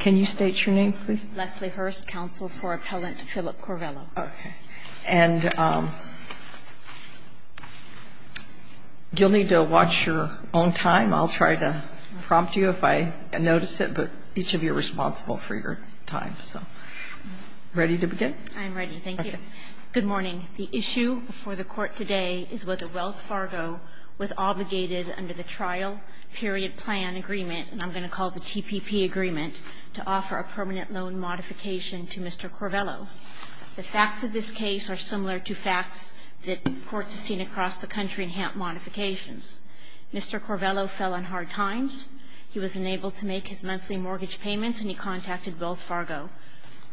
Can you state your name, please? Leslie Hurst, counsel for Appellant Philip Corvello. Okay. And you'll need to watch your own time. I'll try to prompt you if I notice it, but each of you are responsible for your time. So, ready to begin? I'm ready. Thank you. Okay. Good morning. The issue for the Court today is whether Wells Fargo was obligated under the trial period plan agreement, and I'm going to call it the TPP agreement, to offer a permanent loan modification to Mr. Corvello. The facts of this case are similar to facts that courts have seen across the country in HAMP modifications. Mr. Corvello fell on hard times. He was unable to make his monthly mortgage payments, and he contacted Wells Fargo.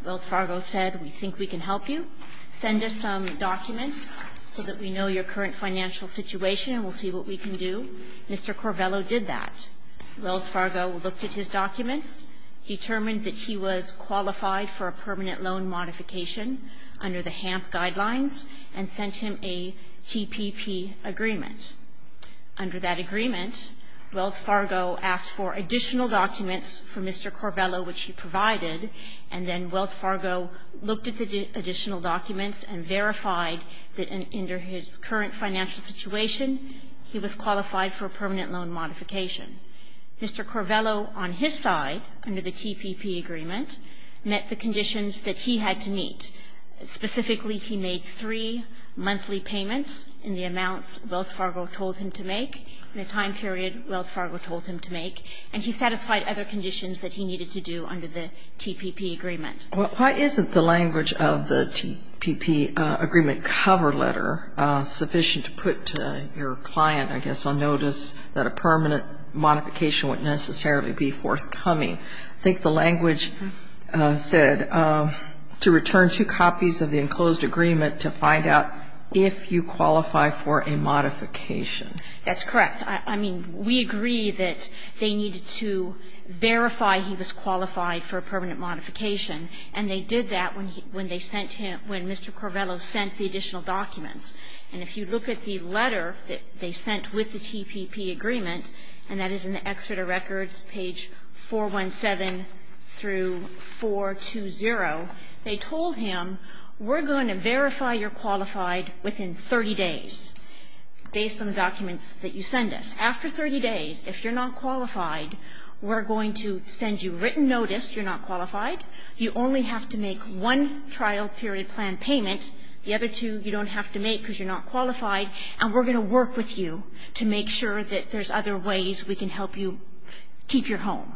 Wells Fargo said, we think we can help you. Send us some documents so that we know your current financial situation, and we'll see what we can do. Mr. Corvello did that. Wells Fargo looked at his documents, determined that he was qualified for a permanent loan modification under the HAMP guidelines, and sent him a TPP agreement. Under that agreement, Wells Fargo asked for additional documents for Mr. Corvello, which he provided, and then Wells Fargo looked at the additional documents and verified that under his current financial situation, he was qualified for a permanent loan modification. Mr. Corvello, on his side, under the TPP agreement, met the conditions that he had to meet. Specifically, he made three monthly payments in the amounts Wells Fargo told him to make, in the time period Wells Fargo told him to make, and he satisfied other conditions that he needed to do under the TPP agreement. Why isn't the language of the TPP agreement cover letter sufficient to put your client, I guess, on notice that a permanent modification wouldn't necessarily be forthcoming? I think the language said, to return two copies of the enclosed agreement to find out if you qualify for a modification. That's correct. I mean, we agree that they needed to verify he was qualified for a permanent modification, and they did that when they sent him, when Mr. Corvello sent the additional documents. And if you look at the letter that they sent with the TPP agreement, and that is in the Exeter Records, page 417 through 420, they told him, we're going to verify you're qualified within 30 days, based on the documents that you send us. After 30 days, if you're not qualified, we're going to send you written notice you're not qualified. You only have to make one trial period plan payment. The other two you don't have to make because you're not qualified. And we're going to work with you to make sure that there's other ways we can help you keep your home.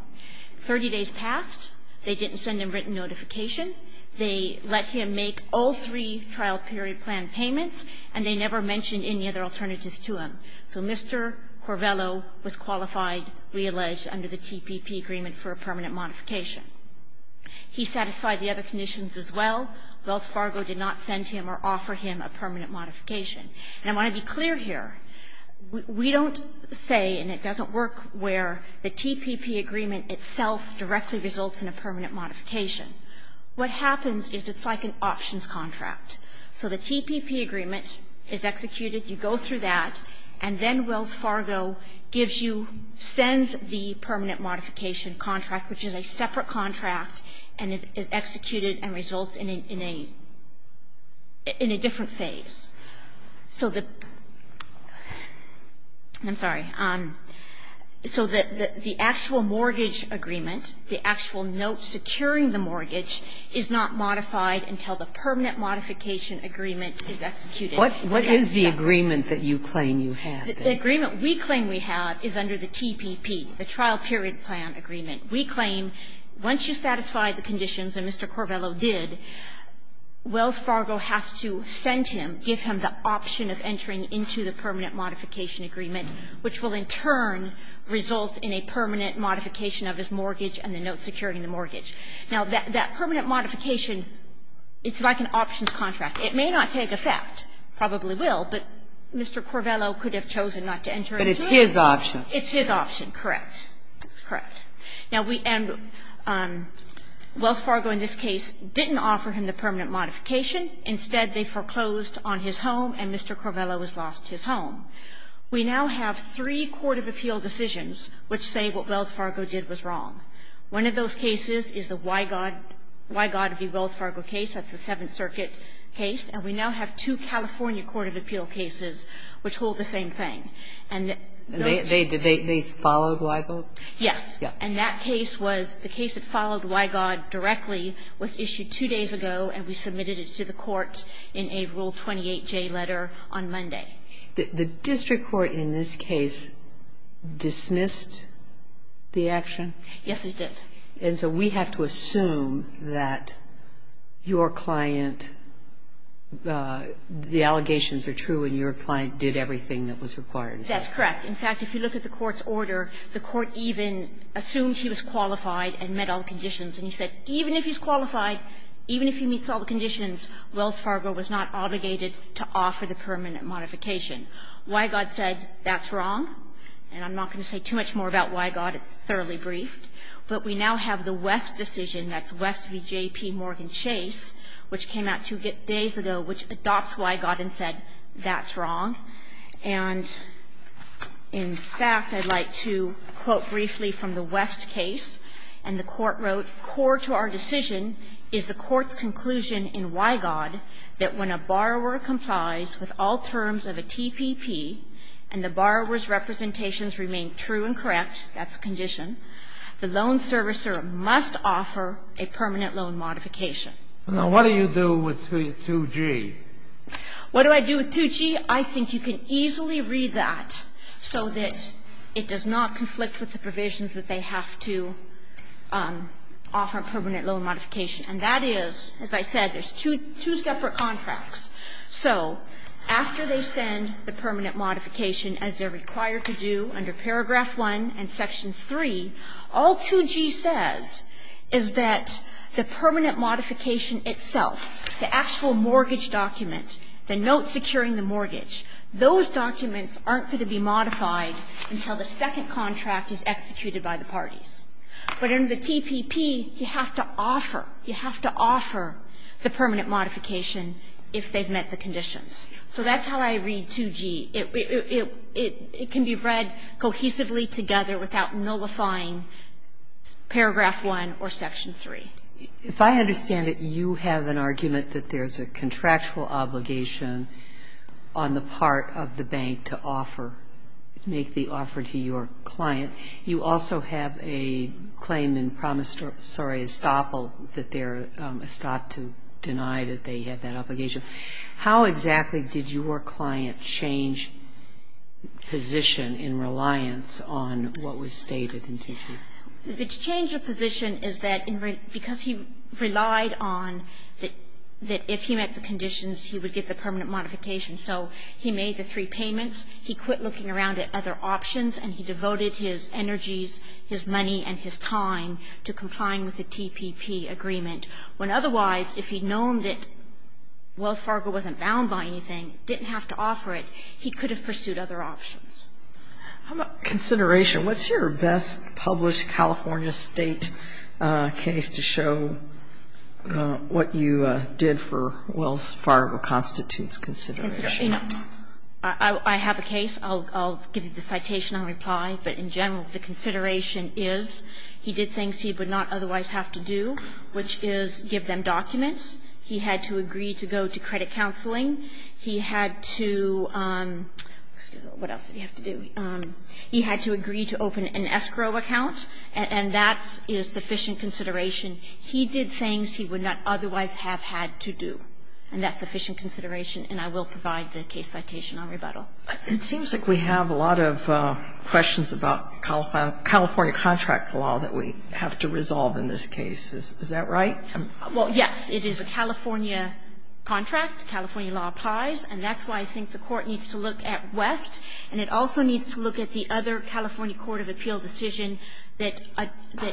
30 days passed, they didn't send him written notification. They let him make all three trial period plan payments, and they never mentioned any other alternatives to him. So Mr. Corvello was qualified, we allege, under the TPP agreement for a permanent modification. He satisfied the other conditions as well. Wells Fargo did not send him or offer him a permanent modification. And I want to be results in a permanent modification. What happens is it's like an options contract. So the TPP agreement is executed. You go through that, and then Wells Fargo gives you, sends the permanent modification contract, which is a separate contract, and it is executed and results in a different phase. So the actual mortgage agreement, the actual note securing the mortgage, is not modified until the permanent modification agreement is executed. What is the agreement that you claim you have? The agreement we claim we have is under the TPP, the trial period plan agreement. We claim once you satisfy the conditions, and Mr. Corvello did, Wells Fargo has to send him, give him the option of entering into the permanent modification agreement, which will in turn result in a permanent modification of his mortgage and the note securing the mortgage. Now, that permanent modification, it's like an options contract. It may not take effect, probably will, but Mr. Corvello could have chosen not to enter into it. But it's his option. It's his option, correct. Correct. Now, we end up, Wells Fargo in this case didn't offer him the permanent modification. Instead, they foreclosed on his home, and Mr. Corvello has lost his home. We now have three court of appeal decisions which say what Wells Fargo did was wrong. One of those cases is the Wygod v. Wells Fargo case. That's the Seventh Circuit case. And we now have two California court of appeal cases which hold the same thing. And those two cases follow Wygod? Yes. Yes. And that case was the case that followed Wygod directly was issued two days ago, and we submitted it to the court in a Rule 28J letter on Monday. The district court in this case dismissed the action? Yes, it did. And so we have to assume that your client, the allegations are true and your client did everything that was required. That's correct. In fact, if you look at the court's order, the court even assumed he was qualified and met all the conditions, and he said even if he's qualified, even if he meets all the conditions, Wells Fargo was not obligated to offer the permanent modification. Wygod said that's wrong, and I'm not going to say too much more about Wygod. It's thoroughly briefed. But we now have the West decision, that's West v. J.P. Morgan Chase, which came out two days ago, which adopts Wygod and said that's wrong. And in fact, I'd like to quote briefly from the West case, and the court wrote, core to our decision is the court's conclusion in Wygod that when a borrower complies with all terms of a TPP and the borrower's representations remain true and correct, that's a condition, the loan servicer must offer a permanent loan modification. Now, what do you do with 2G? What do I do with 2G? I think you can easily read that so that it does not conflict with the provisions that they have to offer permanent loan modification, and that is, as I said, there's two separate contracts. So after they send the permanent modification, as they're required to do under Paragraph 1 and Section 3, all 2G says is that the permanent modification itself, the actual Those documents aren't going to be modified until the second contract is executed by the parties. But under the TPP, you have to offer, you have to offer the permanent modification if they've met the conditions. So that's how I read 2G. It can be read cohesively together without nullifying Paragraph 1 or Section 3. If I understand it, you have an argument that there's a contractual obligation on the part of the bank to offer, make the offer to your client. You also have a claim in promissory estoppel that they're estopped to deny that they had that obligation. How exactly did your client change position in reliance on what was stated in 2G? The change of position is that because he relied on that if he met the conditions, he would get the permanent modification. So he made the three payments. He quit looking around at other options, and he devoted his energies, his money, and his time to complying with the TPP agreement, when otherwise, if he'd known that Wells Fargo wasn't bound by anything, didn't have to offer it, he could have pursued other options. How about consideration? What's your best published California State case to show what you did for Wells Fargo constitutes consideration? I have a case. I'll give you the citation on reply. But in general, the consideration is he did things he would not otherwise have to do, which is give them documents. He had to agree to go to credit counseling. He had to do what else did he have to do? He had to agree to open an escrow account, and that is sufficient consideration. He did things he would not otherwise have had to do. And that's sufficient consideration, and I will provide the case citation on rebuttal. It seems like we have a lot of questions about California contract law that we have to resolve in this case. Is that right? Well, yes. It is a California contract. California law applies, and that's why I think the Court needs to look at West. And it also needs to look at the other California court of appeal decision that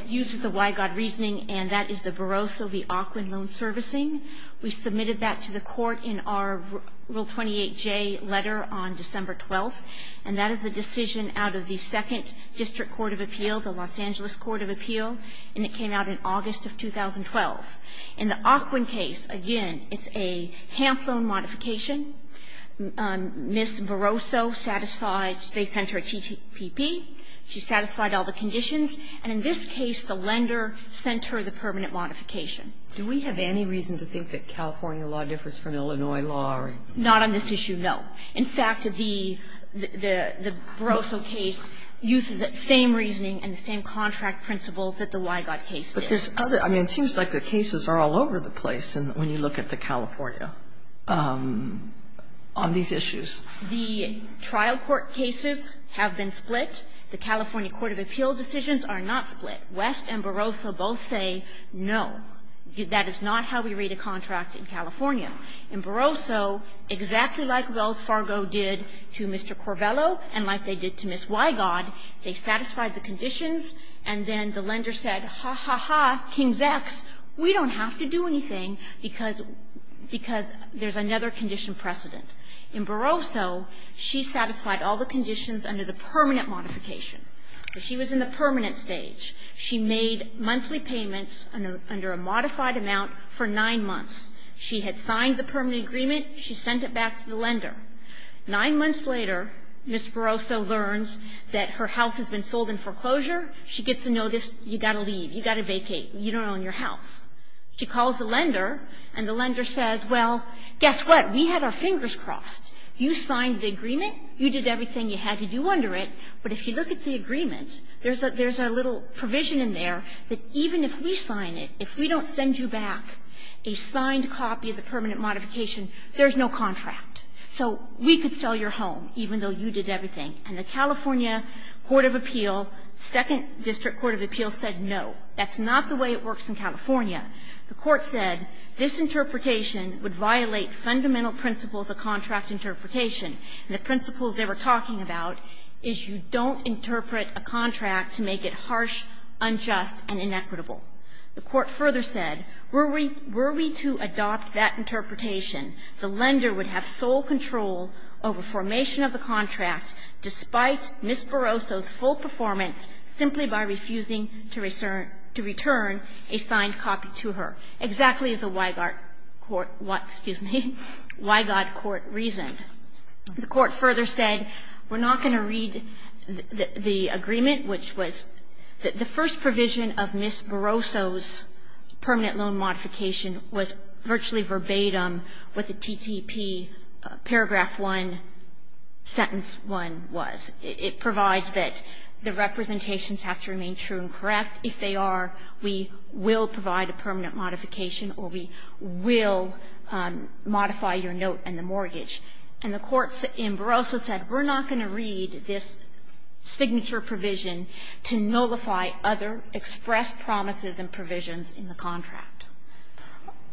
uses the Wygod reasoning, and that is the Barroso v. Ocwin loan servicing. We submitted that to the Court in our Rule 28J letter on December 12th, and that is a decision out of the Second District Court of Appeal, the Los Angeles Court of Appeal, and it came out in August of 2012. In the Ocwin case, again, it's a HAMP loan modification. Ms. Barroso satisfied they sent her a TPP. She satisfied all the conditions. And in this case, the lender sent her the permanent modification. Do we have any reason to think that California law differs from Illinois law or? Not on this issue, no. In fact, the Barroso case uses that same reasoning and the same contract principles that the Wygod case did. But there's other, I mean, it seems like the cases are all over the place when you look at the California on these issues. The trial court cases have been split. The California court of appeal decisions are not split. West and Barroso both say no, that is not how we read a contract in California. In Barroso, exactly like Wells Fargo did to Mr. Corbello and like they did to Ms. Wygod, they satisfied the conditions, and then the lender said, ha, ha, ha. King's X, we don't have to do anything because there's another condition precedent. In Barroso, she satisfied all the conditions under the permanent modification. She was in the permanent stage. She made monthly payments under a modified amount for nine months. She had signed the permanent agreement. She sent it back to the lender. Nine months later, Ms. Barroso learns that her house has been sold in foreclosure. She gets a notice. You've got to leave. You've got to vacate. You don't own your house. She calls the lender, and the lender says, well, guess what? We had our fingers crossed. You signed the agreement. You did everything you had to do under it, but if you look at the agreement, there's a little provision in there that even if we sign it, if we don't send you back a signed copy of the permanent modification, there's no contract. So we could sell your home, even though you did everything. And the California court of appeal, second district court of appeal, said no. That's not the way it works in California. The court said this interpretation would violate fundamental principles of contract interpretation. The principles they were talking about is you don't interpret a contract to make it harsh, unjust, and inequitable. The court further said, were we to adopt that interpretation, the lender would have sole control over formation of the contract despite Ms. Barroso's full performance simply by refusing to return a signed copy to her, exactly as a Weigott court reasoned. The court further said, we're not going to read the agreement, which was the first provision of Ms. Barroso's permanent loan modification was virtually verbatim what the TTP paragraph 1, sentence 1 was. It provides that the representations have to remain true and correct. If they are, we will provide a permanent modification or we will modify your note and the mortgage. And the court in Barroso said, we're not going to read this signature provision to nullify other expressed promises and provisions in the contract.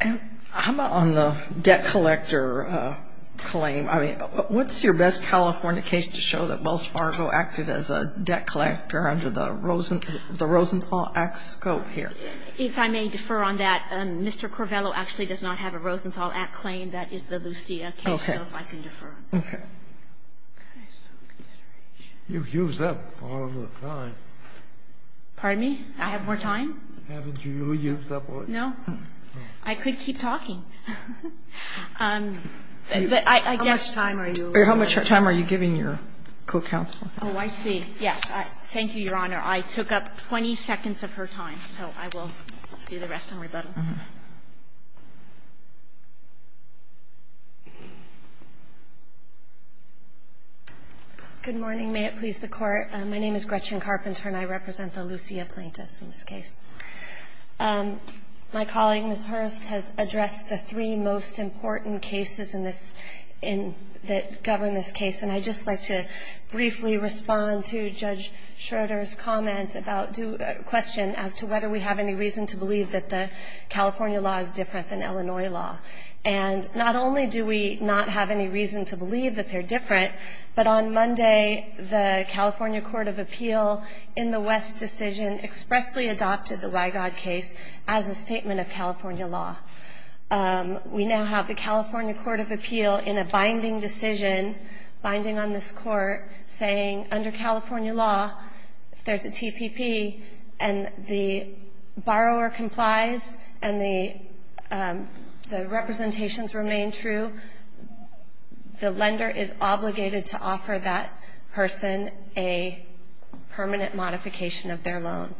And how about on the debt collector claim? I mean, what's your best California case to show that Wells Fargo acted as a debt collector under the Rosenthal Act scope here? If I may defer on that, Mr. Corvello actually does not have a Rosenthal Act claim. That is the Lucia case, so if I can defer. Okay. Okay. You've used up all of the time. Pardon me? I have more time? Haven't you really used up all of it? No. I could keep talking. How much time are you giving your co-counsel? Oh, I see. Yes. Thank you, Your Honor. I took up 20 seconds of her time, so I will do the rest on rebuttal. Good morning. May it please the Court. My name is Gretchen Carpenter and I represent the Lucia plaintiffs in this case. My colleague, Ms. Hurst, has addressed the three most important cases in this in the governing this case, and I'd just like to briefly respond to Judge Schroeder's comments about a question as to whether we have any reason to believe that the California law is different than Illinois law. And not only do we not have any reason to believe that they're different, but on Monday the California court of appeal in the West decision expressly adopted the Wygod case as a statement of California law. We now have the California court of appeal in a binding decision, binding on this court, saying under California law, if there's a TPP and the borrower complies and the representations remain true, the lender is obligated to offer that person a permanent modification of their loan.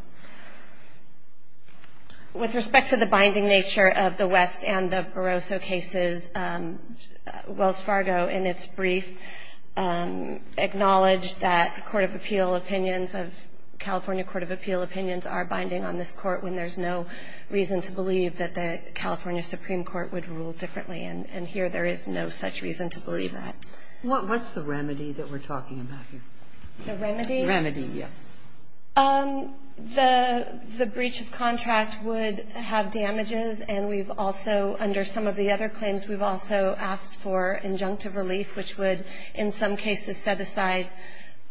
With respect to the binding nature of the West and the Barroso cases, Wells Fargo in its brief acknowledged that court of appeal opinions of California court of appeal opinions are binding on this court when there's no reason to believe that the California supreme court would rule differently. And here there is no such reason to believe that. What's the remedy that we're talking about here? The remedy? The remedy, yes. The breach of contract would have damages, and we've also, under some of the other claims, we've also asked for injunctive relief, which would in some cases set aside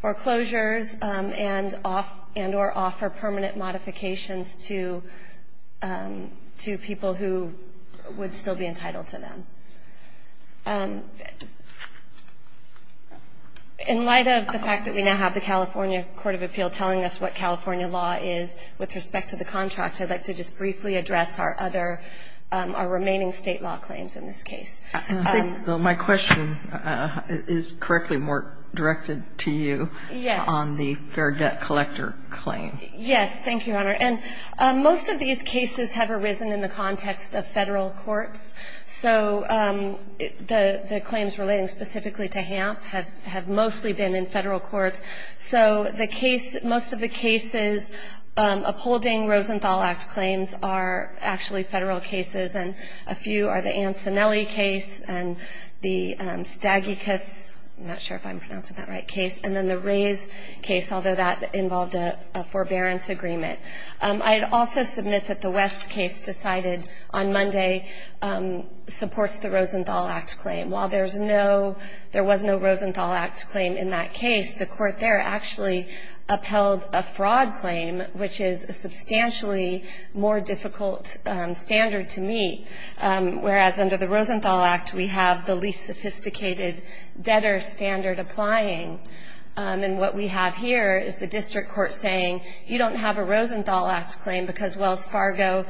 foreclosures and off and or offer permanent modifications to people who would still be entitled to them. In light of the fact that we now have the California court of appeal telling us what California law is with respect to the contract, I'd like to just briefly address our other, our remaining state law claims in this case. And I think, though, my question is correctly more directed to you on the fair debt collector claim. Yes. Thank you, Your Honor. And most of these cases have arisen in the context of Federal courts. So the claims relating specifically to HAMP have mostly been in Federal courts. So the case, most of the cases upholding Rosenthal Act claims are actually Federal cases. And a few are the Ancinelli case and the Stagicus, I'm not sure if I'm pronouncing that right, case. And then the Rays case, although that involved a forbearance agreement. I'd also submit that the West case decided on Monday supports the Rosenthal Act claim. While there's no, there was no Rosenthal Act claim in that case, the court there actually upheld a fraud claim, which is a substantially more difficult standard to meet. Whereas under the Rosenthal Act, we have the least sophisticated debtor standard applying. And what we have here is the district court saying, you don't have a Rosenthal Act claim because Wells Fargo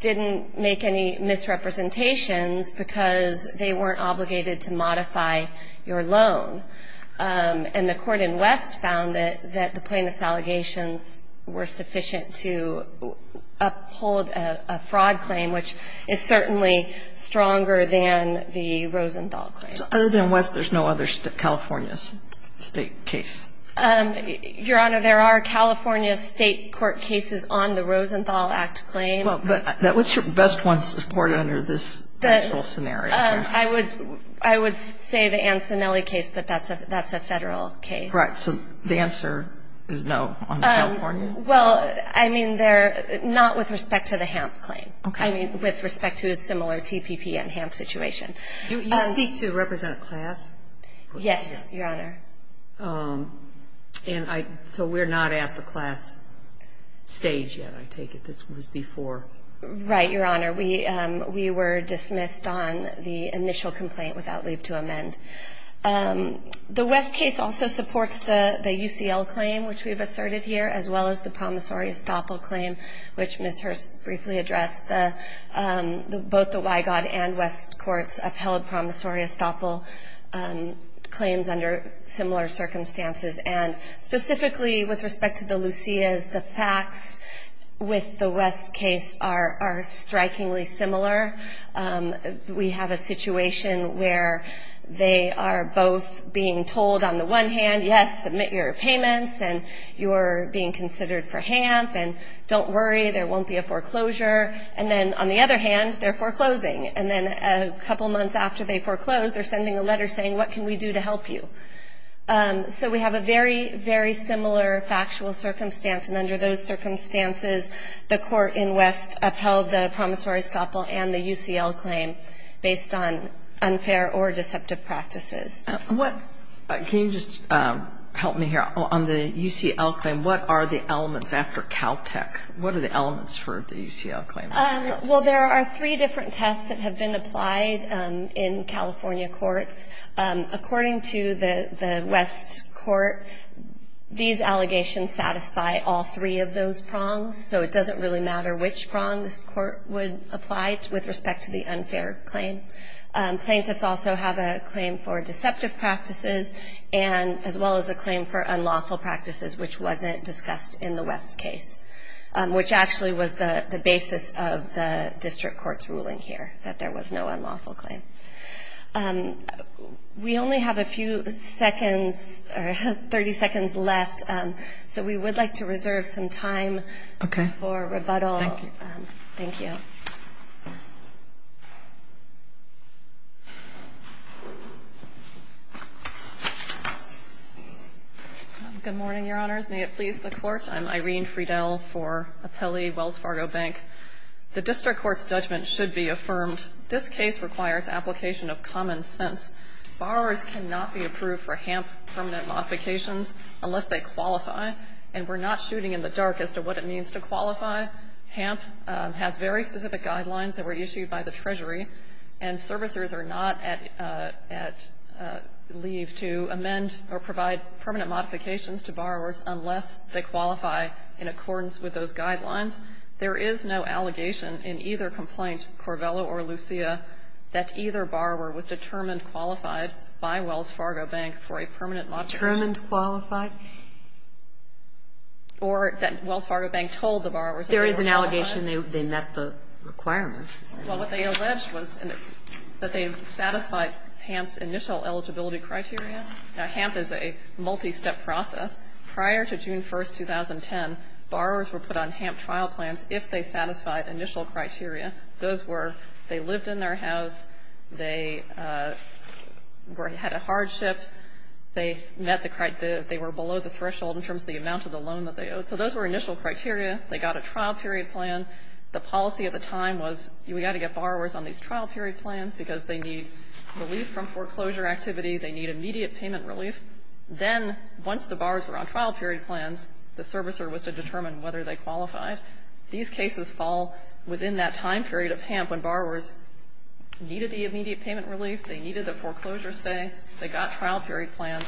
didn't make any misrepresentations because they weren't obligated to modify your loan. And the court in West found that the plaintiff's allegations were sufficient to uphold a fraud claim, which is certainly stronger than the Rosenthal claim. So other than West, there's no other California's? State case. Your Honor, there are California state court cases on the Rosenthal Act claim. Well, but what's your best one supported under this actual scenario? I would say the Ancinelli case, but that's a Federal case. Right. So the answer is no on the California? Well, I mean, they're not with respect to the HAMP claim. Okay. I mean, with respect to a similar TPP and HAMP situation. You seek to represent a class? Yes, Your Honor. And so we're not at the class stage yet, I take it? This was before? Right, Your Honor. We were dismissed on the initial complaint without leave to amend. The West case also supports the UCL claim, which we've asserted here, as well as the promissory estoppel claim, which Ms. Hurst briefly addressed. Both the Wygod and West courts upheld promissory estoppel claims under similar circumstances, and specifically with respect to the Lucias, the facts with the West case are strikingly similar. We have a situation where they are both being told on the one hand, yes, submit your payments, and you're being considered for HAMP, and don't worry, there won't be a foreclosure. And then on the other hand, they're foreclosing. And then a couple months after they foreclose, they're sending a letter saying, what can we do to help you? So we have a very, very similar factual circumstance. And under those circumstances, the court in West upheld the promissory estoppel and the UCL claim based on unfair or deceptive practices. What – can you just help me here? On the UCL claim, what are the elements after Caltech? What are the elements for the UCL claim? Well, there are three different tests that have been applied in California courts. According to the West court, these allegations satisfy all three of those prongs, so it doesn't really matter which prong this court would apply with respect to the unfair claim. Plaintiffs also have a claim for deceptive practices, and as well as a claim for unlawful practices, which wasn't discussed in the West case, which actually was the basis of the district court's ruling here, that there was no We only have a few seconds – 30 seconds left, so we would like to reserve some time for rebuttal. Thank you. Good morning, Your Honors. May it please the Court. I'm Irene Friedel for Apelli, Wells Fargo Bank. The district court's judgment should be affirmed. This case requires application of common sense. Borrowers cannot be approved for HAMP permanent modifications unless they qualify, and we're not shooting in the dark as to what it means to qualify. HAMP has very specific guidelines that were issued by the Treasury, and servicers are not at leave to amend or provide permanent modifications to borrowers unless they qualify in accordance with those guidelines. There is no allegation in either complaint, Corvella or Lucia, that either borrower was determined qualified by Wells Fargo Bank for a permanent modification. Determined qualified? Or that Wells Fargo Bank told the borrowers that they were qualified. There is an allegation they met the requirements. Well, what they alleged was that they satisfied HAMP's initial eligibility criteria. Now, HAMP is a multi-step process. Prior to June 1st, 2010, borrowers were put on HAMP trial plans if they satisfied initial criteria. Those were they lived in their house, they were at a hardship, they met the criteria, they were below the threshold in terms of the amount of the loan that they owed. So those were initial criteria. They got a trial period plan. The policy at the time was we got to get borrowers on these trial period plans because they need relief from foreclosure activity, they need immediate payment relief. Then, once the borrowers were on trial period plans, the servicer was to determine whether they qualified. These cases fall within that time period of HAMP when borrowers needed the immediate payment relief, they needed the foreclosure stay, they got trial period plans.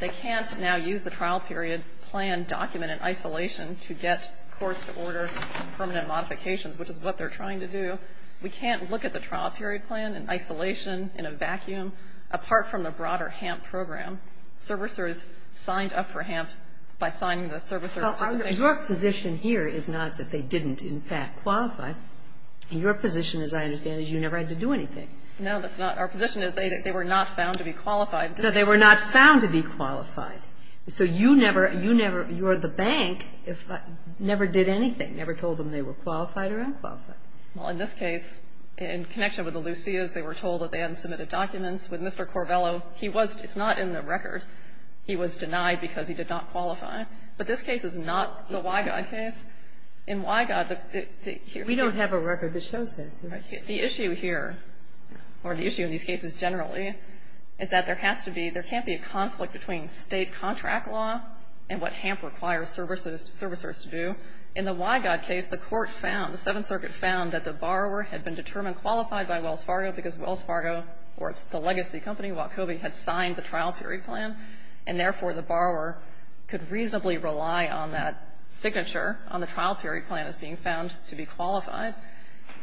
They can't now use the trial period plan document in isolation to get courts to order permanent modifications, which is what they're trying to do. We can't look at the trial period plan in isolation, in a vacuum, apart from the broader HAMP program. Servicers signed up for HAMP by signing the servicer's application. Kagan. Your position here is not that they didn't, in fact, qualify. Your position, as I understand it, is you never had to do anything. No, that's not. Our position is they were not found to be qualified. No, they were not found to be qualified. So you never, you never, you're the bank, never did anything, never told them they were qualified or unqualified. Well, in this case, in connection with the Lucias, they were told that they had to submit the documents with Mr. Corvello. He was, it's not in the record, he was denied because he did not qualify. But this case is not the Wygod case. In Wygod, the issue here We don't have a record that shows that. The issue here, or the issue in these cases generally, is that there has to be, there can't be a conflict between State contract law and what HAMP requires servicers to do. In the Wygod case, the court found, the Seventh Circuit found that the borrower had been determined qualified by Wells Fargo, because Wells Fargo, or it's the legacy company, Wachovia, had signed the trial period plan, and therefore the borrower could reasonably rely on that signature on the trial period plan as being found to be qualified.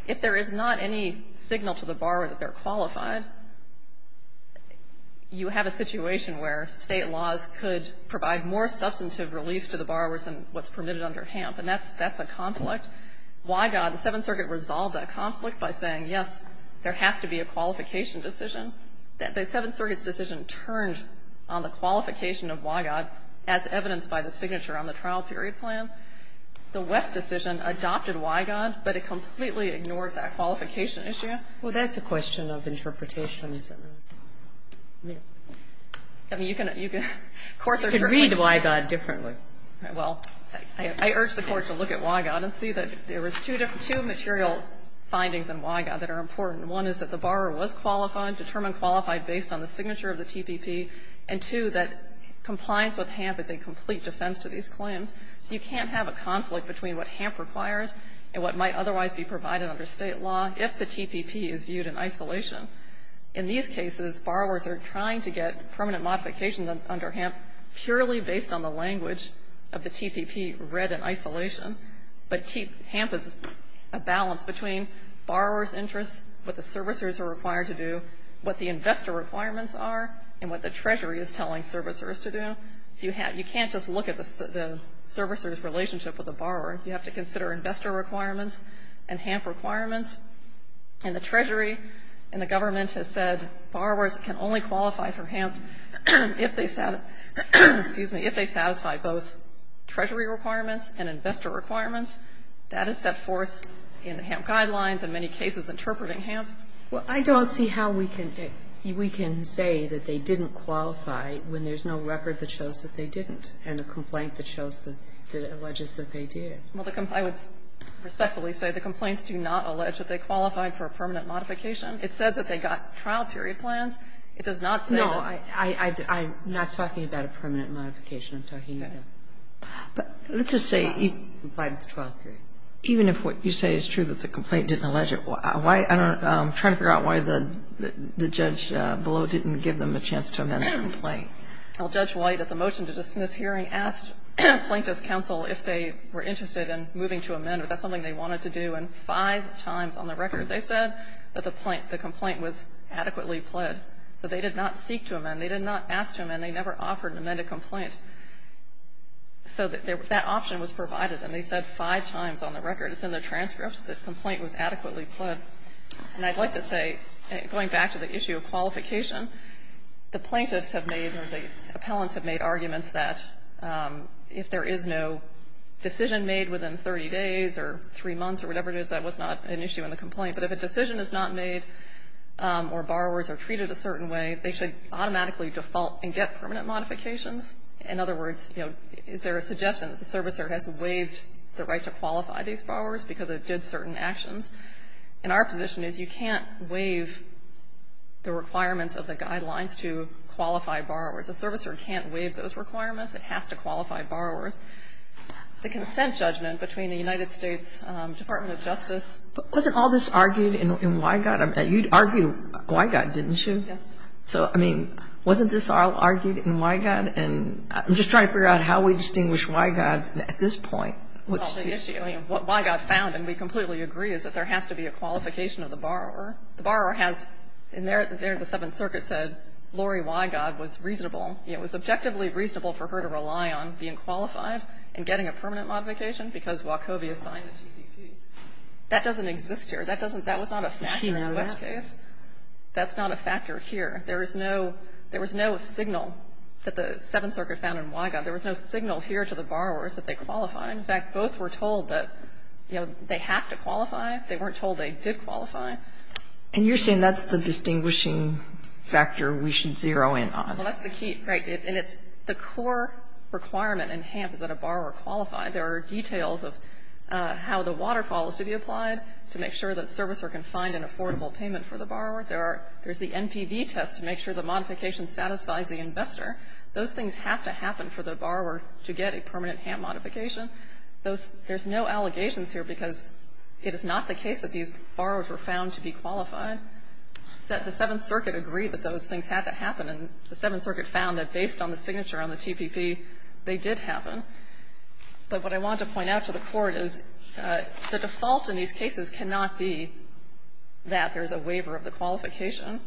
If there is not any signal to the borrower that they're qualified, you have a situation where State laws could provide more substantive relief to the borrowers than what's permitted under HAMP, and that's a conflict. Wygod, the Seventh Circuit resolved that conflict by saying, yes, there has to be a qualification decision. The Seventh Circuit's decision turned on the qualification of Wygod as evidenced by the signature on the trial period plan. The West decision adopted Wygod, but it completely ignored that qualification issue. Sotomayor Well, that's a question of interpretation, isn't it? I mean, you can, you can, courts are certainly You can read Wygod differently. Well, I urge the Court to look at Wygod and see that there is two material findings in Wygod that are important. One is that the borrower was qualified, determined qualified based on the signature of the TPP, and two, that compliance with HAMP is a complete defense to these claims. So you can't have a conflict between what HAMP requires and what might otherwise be provided under State law if the TPP is viewed in isolation. In these cases, borrowers are trying to get permanent modifications under HAMP purely based on the language of the TPP read in isolation, but HAMP is a balance between borrower's interests, what the servicers are required to do, what the investor requirements are, and what the Treasury is telling servicers to do. So you can't just look at the servicer's relationship with the borrower. You have to consider investor requirements and HAMP requirements. And the Treasury and the government has said borrowers can only qualify for HAMP if they satisfy both Treasury requirements and investor requirements. That is set forth in HAMP guidelines and many cases interpreting HAMP. Well, I don't see how we can say that they didn't qualify when there's no record that shows that they didn't and a complaint that shows that it alleges that they did. Well, I would respectfully say the complaints do not allege that they qualified for a permanent modification. It says that they got trial period plans. It does not say that they got a permanent modification. I'm not talking about a permanent modification. I'm talking about a complaint with a trial period. Even if what you say is true, that the complaint didn't allege it, why don't you try to figure out why the judge below didn't give them a chance to amend the complaint? Well, Judge White, at the motion to dismiss hearing, asked Plaintiffs' counsel if they were interested in moving to amend, if that's something they wanted to do. And five times on the record they said that the complaint was adequately pled. So they did not seek to amend. They did not ask to amend. They never offered to amend a complaint. So that option was provided, and they said five times on the record. It's in the transcripts that the complaint was adequately pled. And I'd like to say, going back to the issue of qualification, the Plaintiffs have made or the appellants have made arguments that if there is no decision made within 30 days or three months or whatever it is, that was not an issue in the complaint. But if a decision is not made or borrowers are treated a certain way, they should automatically default and get permanent modifications. In other words, you know, is there a suggestion that the servicer has waived the right to qualify these borrowers because it did certain actions? And our position is you can't waive the requirements of the Guidelines to qualify borrowers. A servicer can't waive those requirements. It has to qualify borrowers. The consent judgment between the United States Department of Justice ---- But wasn't all this argued in Wygott? You argued Wygott, didn't you? Yes. So, I mean, wasn't this all argued in Wygott? And I'm just trying to figure out how we distinguish Wygott at this point. What's the issue? I mean, what Wygott found, and we completely agree, is that there has to be a qualification of the borrower. The borrower has ---- and there the Seventh Circuit said Lori Wygott was reasonable ---- it was objectively reasonable for her to rely on being qualified and getting a permanent modification because Wachovia signed the TPP. That doesn't exist here. That doesn't ---- that was not a factor in this case. That's not a factor here. There is no ---- there was no signal that the Seventh Circuit found in Wygott. There was no signal here to the borrowers that they qualify. In fact, both were told that, you know, they have to qualify. They weren't told they did qualify. And you're saying that's the distinguishing factor we should zero in on. Well, that's the key. Right. And it's the core requirement in HAMP is that a borrower qualify. There are details of how the waterfall is to be applied to make sure that the servicer can find an affordable payment for the borrower. There are ---- there's the NPV test to make sure the modification satisfies the investor. Those things have to happen for the borrower to get a permanent HAMP modification. Those ---- there's no allegations here because it is not the case that these borrowers were found to be qualified. The Seventh Circuit agreed that those things had to happen, and the Seventh Circuit found that based on the signature on the TPP, they did happen. But what I wanted to point out to the Court is the default in these cases cannot be that there's a waiver of the qualification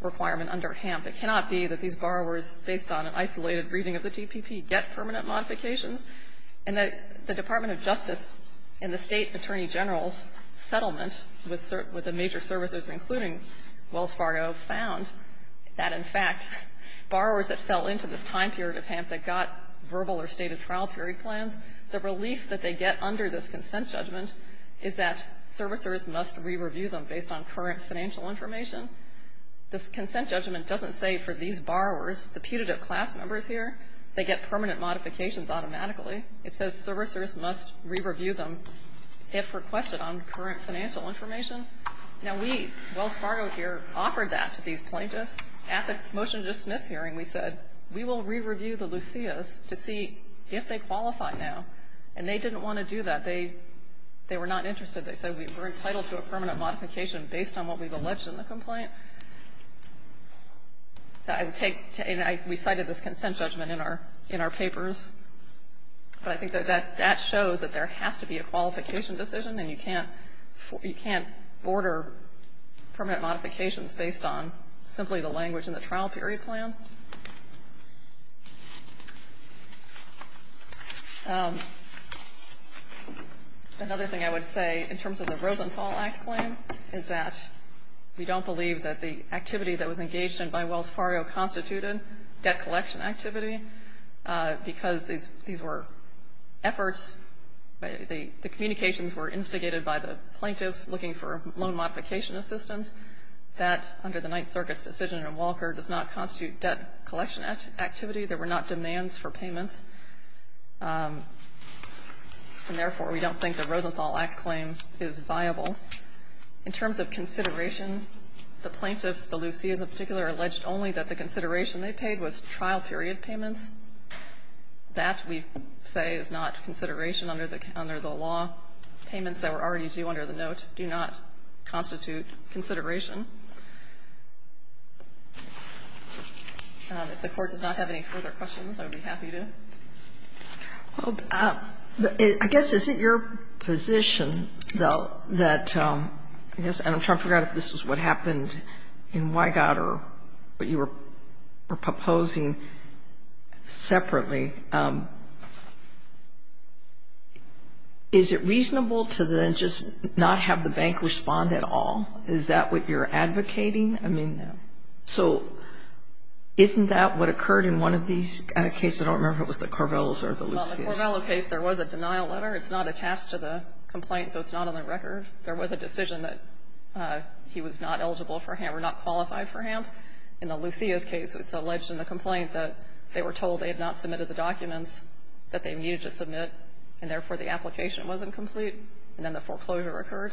requirement under HAMP. It cannot be that these borrowers, based on an isolated reading of the TPP, get permanent modifications, and that the Department of Justice and the State Attorney General's settlement with the major servicers, including Wells Fargo, found that, in fact, borrowers that fell into this time period of HAMP that got verbal or stated trial period plans, the relief that they get under this consent judgment is that servicers must re-review them based on current financial information. This consent judgment doesn't say for these borrowers, the putative class members here, they get permanent modifications automatically. It says servicers must re-review them if requested on current financial information. Now, we, Wells Fargo here, offered that to these plaintiffs. At the motion to dismiss hearing, we said we will re-review the Lucias to see if they qualify now. And they didn't want to do that. They were not interested. They said we're entitled to a permanent modification based on what we've alleged in the complaint. So I would take to end, we cited this consent judgment in our, in our papers. But I think that that, that shows that there has to be a qualification decision and you can't, you can't order permanent modifications based on simply the language in the trial period plan. Another thing I would say in terms of the Rosenthal Act claim is that we don't believe that the activity that was engaged in by Wells Fargo constituted debt collection activity because these, these were efforts, the, the communications were instigated by the plaintiffs looking for loan modification assistance. That, under the Ninth Circuit's decision in Walker, does not constitute debt collection activity. There were not demands for payments. And therefore, we don't think the Rosenthal Act claim is viable. In terms of consideration, the plaintiffs, the Lucias in particular, alleged only that the consideration they paid was trial period payments. That, we say, is not consideration under the, under the law. Payments that were already due under the note do not constitute consideration. If the Court does not have any further questions, I would be happy to. Sotomayor, I guess, is it your position, though, that, I guess, and I'm trying to figure out if this is what happened in Wygott or what you were proposing separately, is it reasonable to then just not have the bank respond at all? Is that what you're advocating? I mean, so isn't that what occurred in one of these cases? I don't remember if it was the Corvellos or the Lucias. Well, in the Corvello case, there was a denial letter. It's not attached to the complaint, so it's not on the record. There was a decision that he was not eligible for HAMP or not qualified for HAMP. In the Lucias case, it's alleged in the complaint that they were told they had not submitted the documents that they needed to submit, and therefore, the application wasn't complete, and then the foreclosure occurred.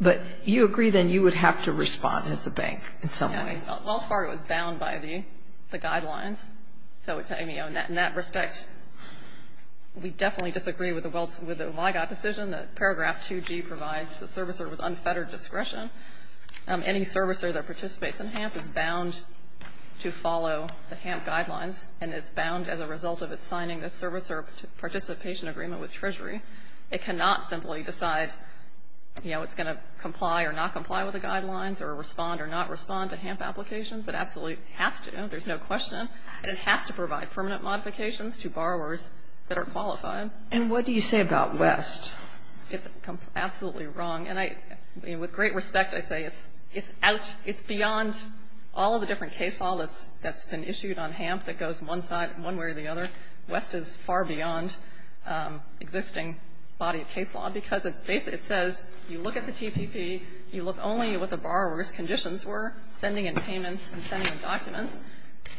But you agree, then, you would have to respond as a bank in some way. Yeah. Wells Fargo is bound by the guidelines. So, to me, in that respect, we definitely disagree with the Wells, with the Wygott decision that Paragraph 2G provides the servicer with unfettered discretion. Any servicer that participates in HAMP is bound to follow the HAMP guidelines, and it's bound as a result of its signing the servicer participation agreement with Treasury. It cannot simply decide, you know, it's going to comply or not comply with the guidelines, or respond or not respond to HAMP applications. It absolutely has to. There's no question, and it has to provide permanent modifications to borrowers that are qualified. And what do you say about West? It's absolutely wrong. And I, with great respect, I say it's out, it's beyond all of the different case law that's been issued on HAMP that goes one side, one way or the other. West is far beyond existing body of case law, because it's basically, it says you look at the TPP, you look only at what the borrower's conditions were, sending in payments and sending in documents,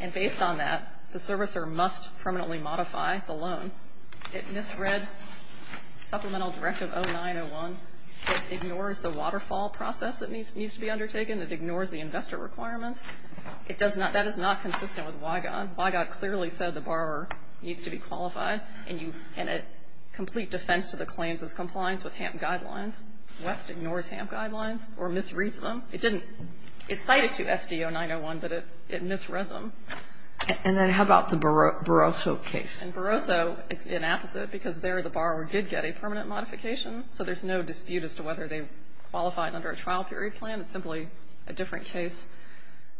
and based on that, the servicer must permanently modify the loan. It misread Supplemental Directive 0901. It ignores the waterfall process that needs to be undertaken. It ignores the investor requirements. It does not, that is not consistent with WIGOD. WIGOD clearly said the borrower needs to be qualified, and you, in a complete defense to the claims as compliance with HAMP guidelines, West ignores HAMP guidelines or misreads them. It didn't, it cited to SD 0901, but it misread them. And then how about the Barroso case? And Barroso is inapposite, because there the borrower did get a permanent modification, so there's no dispute as to whether they qualified under a trial period plan. It's simply a different case.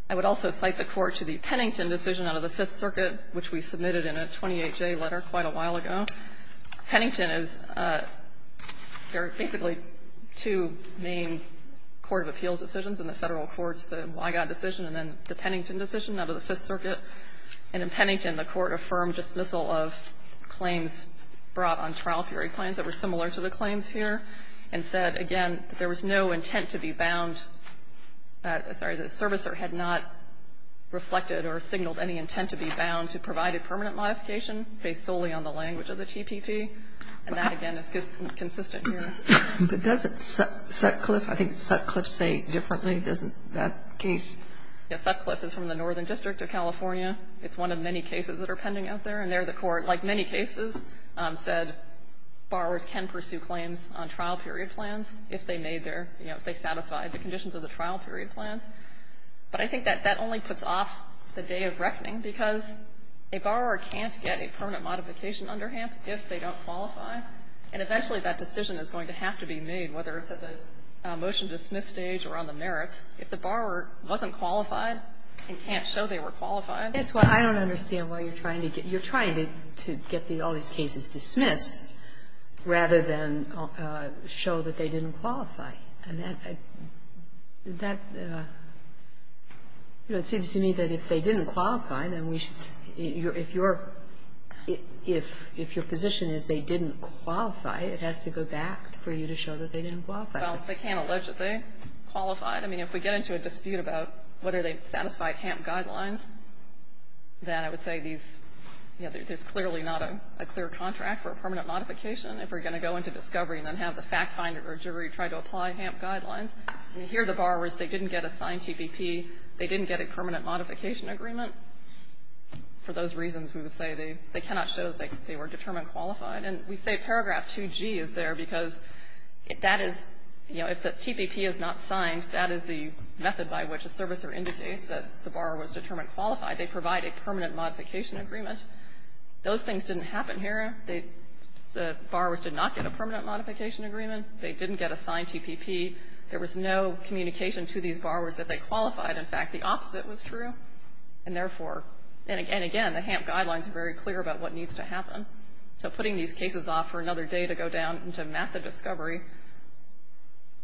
I would also cite the Court to the Pennington decision out of the Fifth Circuit, which we submitted in a 28-J letter quite a while ago. Pennington is, there are basically two main court of appeals decisions in the Federal courts, the WIGOD decision and then the Pennington decision out of the Fifth Circuit. And in Pennington, the Court affirmed dismissal of claims brought on trial period plans that were similar to the claims here, and said, again, that there was no intent to be bound, sorry, the servicer had not reflected or signaled any intent to be bound to provide a permanent modification based solely on the language of the TPP. And that, again, is inconsistent here. Sotomayor, but does Sutcliffe, I think Sutcliffe say differently, doesn't that case? Yes, Sutcliffe is from the Northern District of California. It's one of many cases that are pending out there, and there the Court, like many cases, said borrowers can pursue claims on trial period plans if they made their you know, if they satisfied the conditions of the trial period plans. But I think that that only puts off the day of reckoning, because a borrower can't get a permanent modification under HAMP if they don't qualify, and eventually that decision is going to have to be made, whether it's at the motion-dismiss stage or on the merits, if the borrower wasn't qualified and can't show they were qualified. That's why I don't understand why you're trying to get, you're trying to get all these cases dismissed rather than show that they didn't qualify. And that, you know, it seems to me that if they didn't qualify, then we should if you're, if your position is they didn't qualify, it has to go back for you to show that they didn't qualify. Well, they can't allege that they qualified. I mean, if we get into a dispute about whether they satisfied HAMP guidelines, then I would say these, you know, there's clearly not a clear contract for a permanent modification. If we're going to go into discovery and then have the fact finder or jury try to apply HAMP guidelines, here the borrowers, they didn't get a signed TPP, they didn't get a permanent modification agreement. For those reasons, we would say they cannot show that they were determined qualified. And we say paragraph 2G is there because that is, you know, if the TPP is not signed, that is the method by which a servicer indicates that the borrower was determined qualified. They provide a permanent modification agreement. Those things didn't happen here. They, the borrowers did not get a permanent modification agreement. They didn't get a signed TPP. There was no communication to these borrowers that they qualified. In fact, the opposite was true. And therefore, and again, the HAMP guidelines are very clear about what needs to happen. So putting these cases off for another day to go down into massive discovery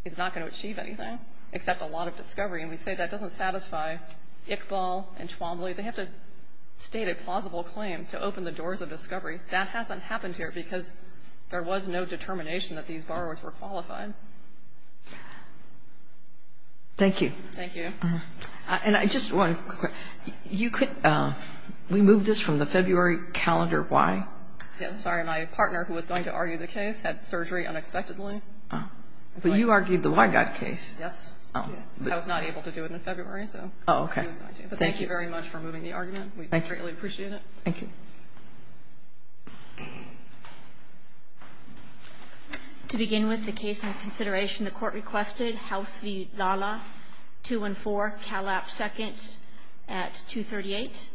is not going to achieve anything except a lot of discovery. And we say that doesn't satisfy Iqbal and Chwamblee. They have to state a plausible claim to open the doors of discovery. That hasn't happened here because there was no determination that these borrowers were qualified. Thank you. Thank you. And I just want to, you could, we moved this from the February calendar, why? I'm sorry, my partner, who was going to argue the case, had surgery unexpectedly. But you argued the Weigott case. Yes. I was not able to do it in February, so. Oh, okay. Thank you very much for moving the argument. We greatly appreciate it. Thank you. To begin with, the case on consideration, the Court requested House v. Lala, 214, Calap, II, at 238.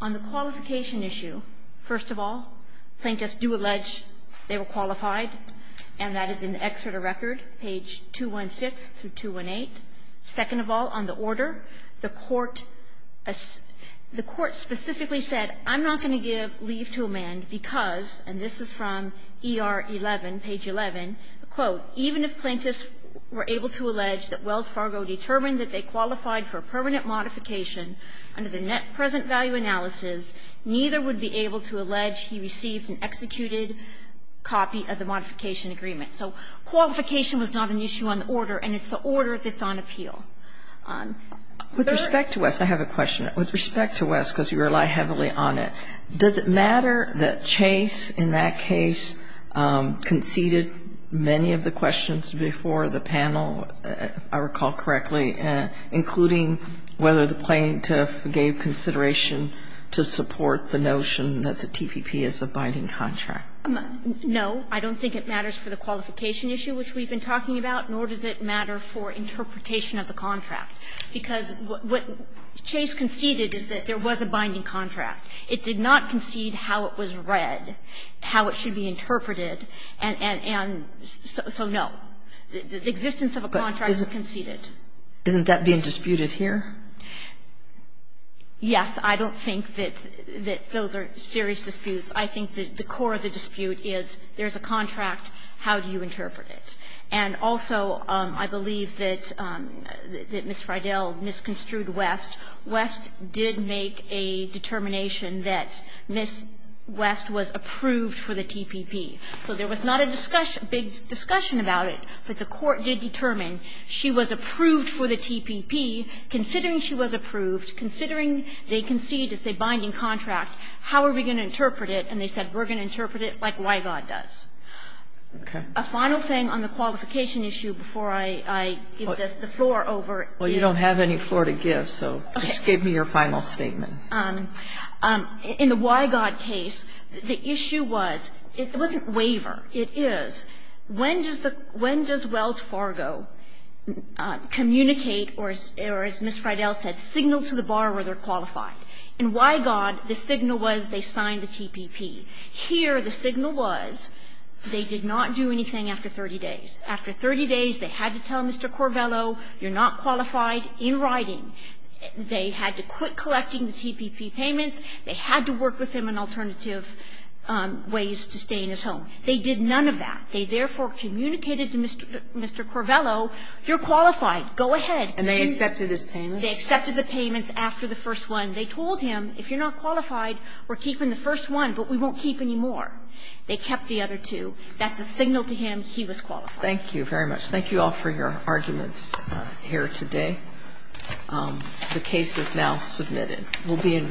On the qualification issue, first of all, plaintiffs do allege they were qualified, and that is in the Excerpt of Record, page 216 through 218. Second of all, on the order, the Court specifically said, I'm not going to give leave to a man because, and this is from ER 11, page 11, quote, even if plaintiffs were able to allege that Wells Fargo determined that they qualified for permanent modification under the net present value analysis, neither would be able to allege he received an executed copy of the modification agreement. So qualification was not an issue on the order, and it's the order that's on appeal. With respect to West, I have a question. With respect to West, because you rely heavily on it, does it matter that Chase, in that case, conceded many of the questions before the panel, if I recall correctly, including whether the plaintiff gave consideration to support the notion that the TPP is a binding contract? No. I don't think it matters for the qualification issue, which we've been talking about, nor does it matter for interpretation of the contract, because what Chase conceded is that there was a binding contract. It did not concede how it was read, how it should be interpreted, and so no. The existence of a contract is conceded. Isn't that being disputed here? Yes. I don't think that those are serious disputes. I think that the core of the dispute is there's a contract. How do you interpret it? And also, I believe that Ms. Friedell misconstrued West. West did make a determination that Ms. West was approved for the TPP. So there was not a big discussion about it, but the Court did determine she was approved for the TPP, considering she was approved, considering they conceded it's a binding contract, how are we going to interpret it? And they said, we're going to interpret it like WIGOD does. Okay. A final thing on the qualification issue before I give the floor over is you don't have any floor to give, so just give me your final statement. In the WIGOD case, the issue was, it wasn't waiver, it is, when does Wells Fargo communicate or, as Ms. Friedell said, signal to the borrower they're qualified? In WIGOD, the signal was they signed the TPP. Here, the signal was they did not do anything after 30 days. After 30 days, they had to tell Mr. Corvello, you're not qualified in writing. They had to quit collecting the TPP payments. They had to work with him on alternative ways to stay in his home. They did none of that. They therefore communicated to Mr. Corvello, you're qualified, go ahead. And they accepted his payments? They accepted the payments after the first one. They told him, if you're not qualified, we're keeping the first one, but we won't keep any more. They kept the other two. That's a signal to him he was qualified. Thank you very much. Thank you all for your arguments here today. The case is now submitted. We'll be in recess.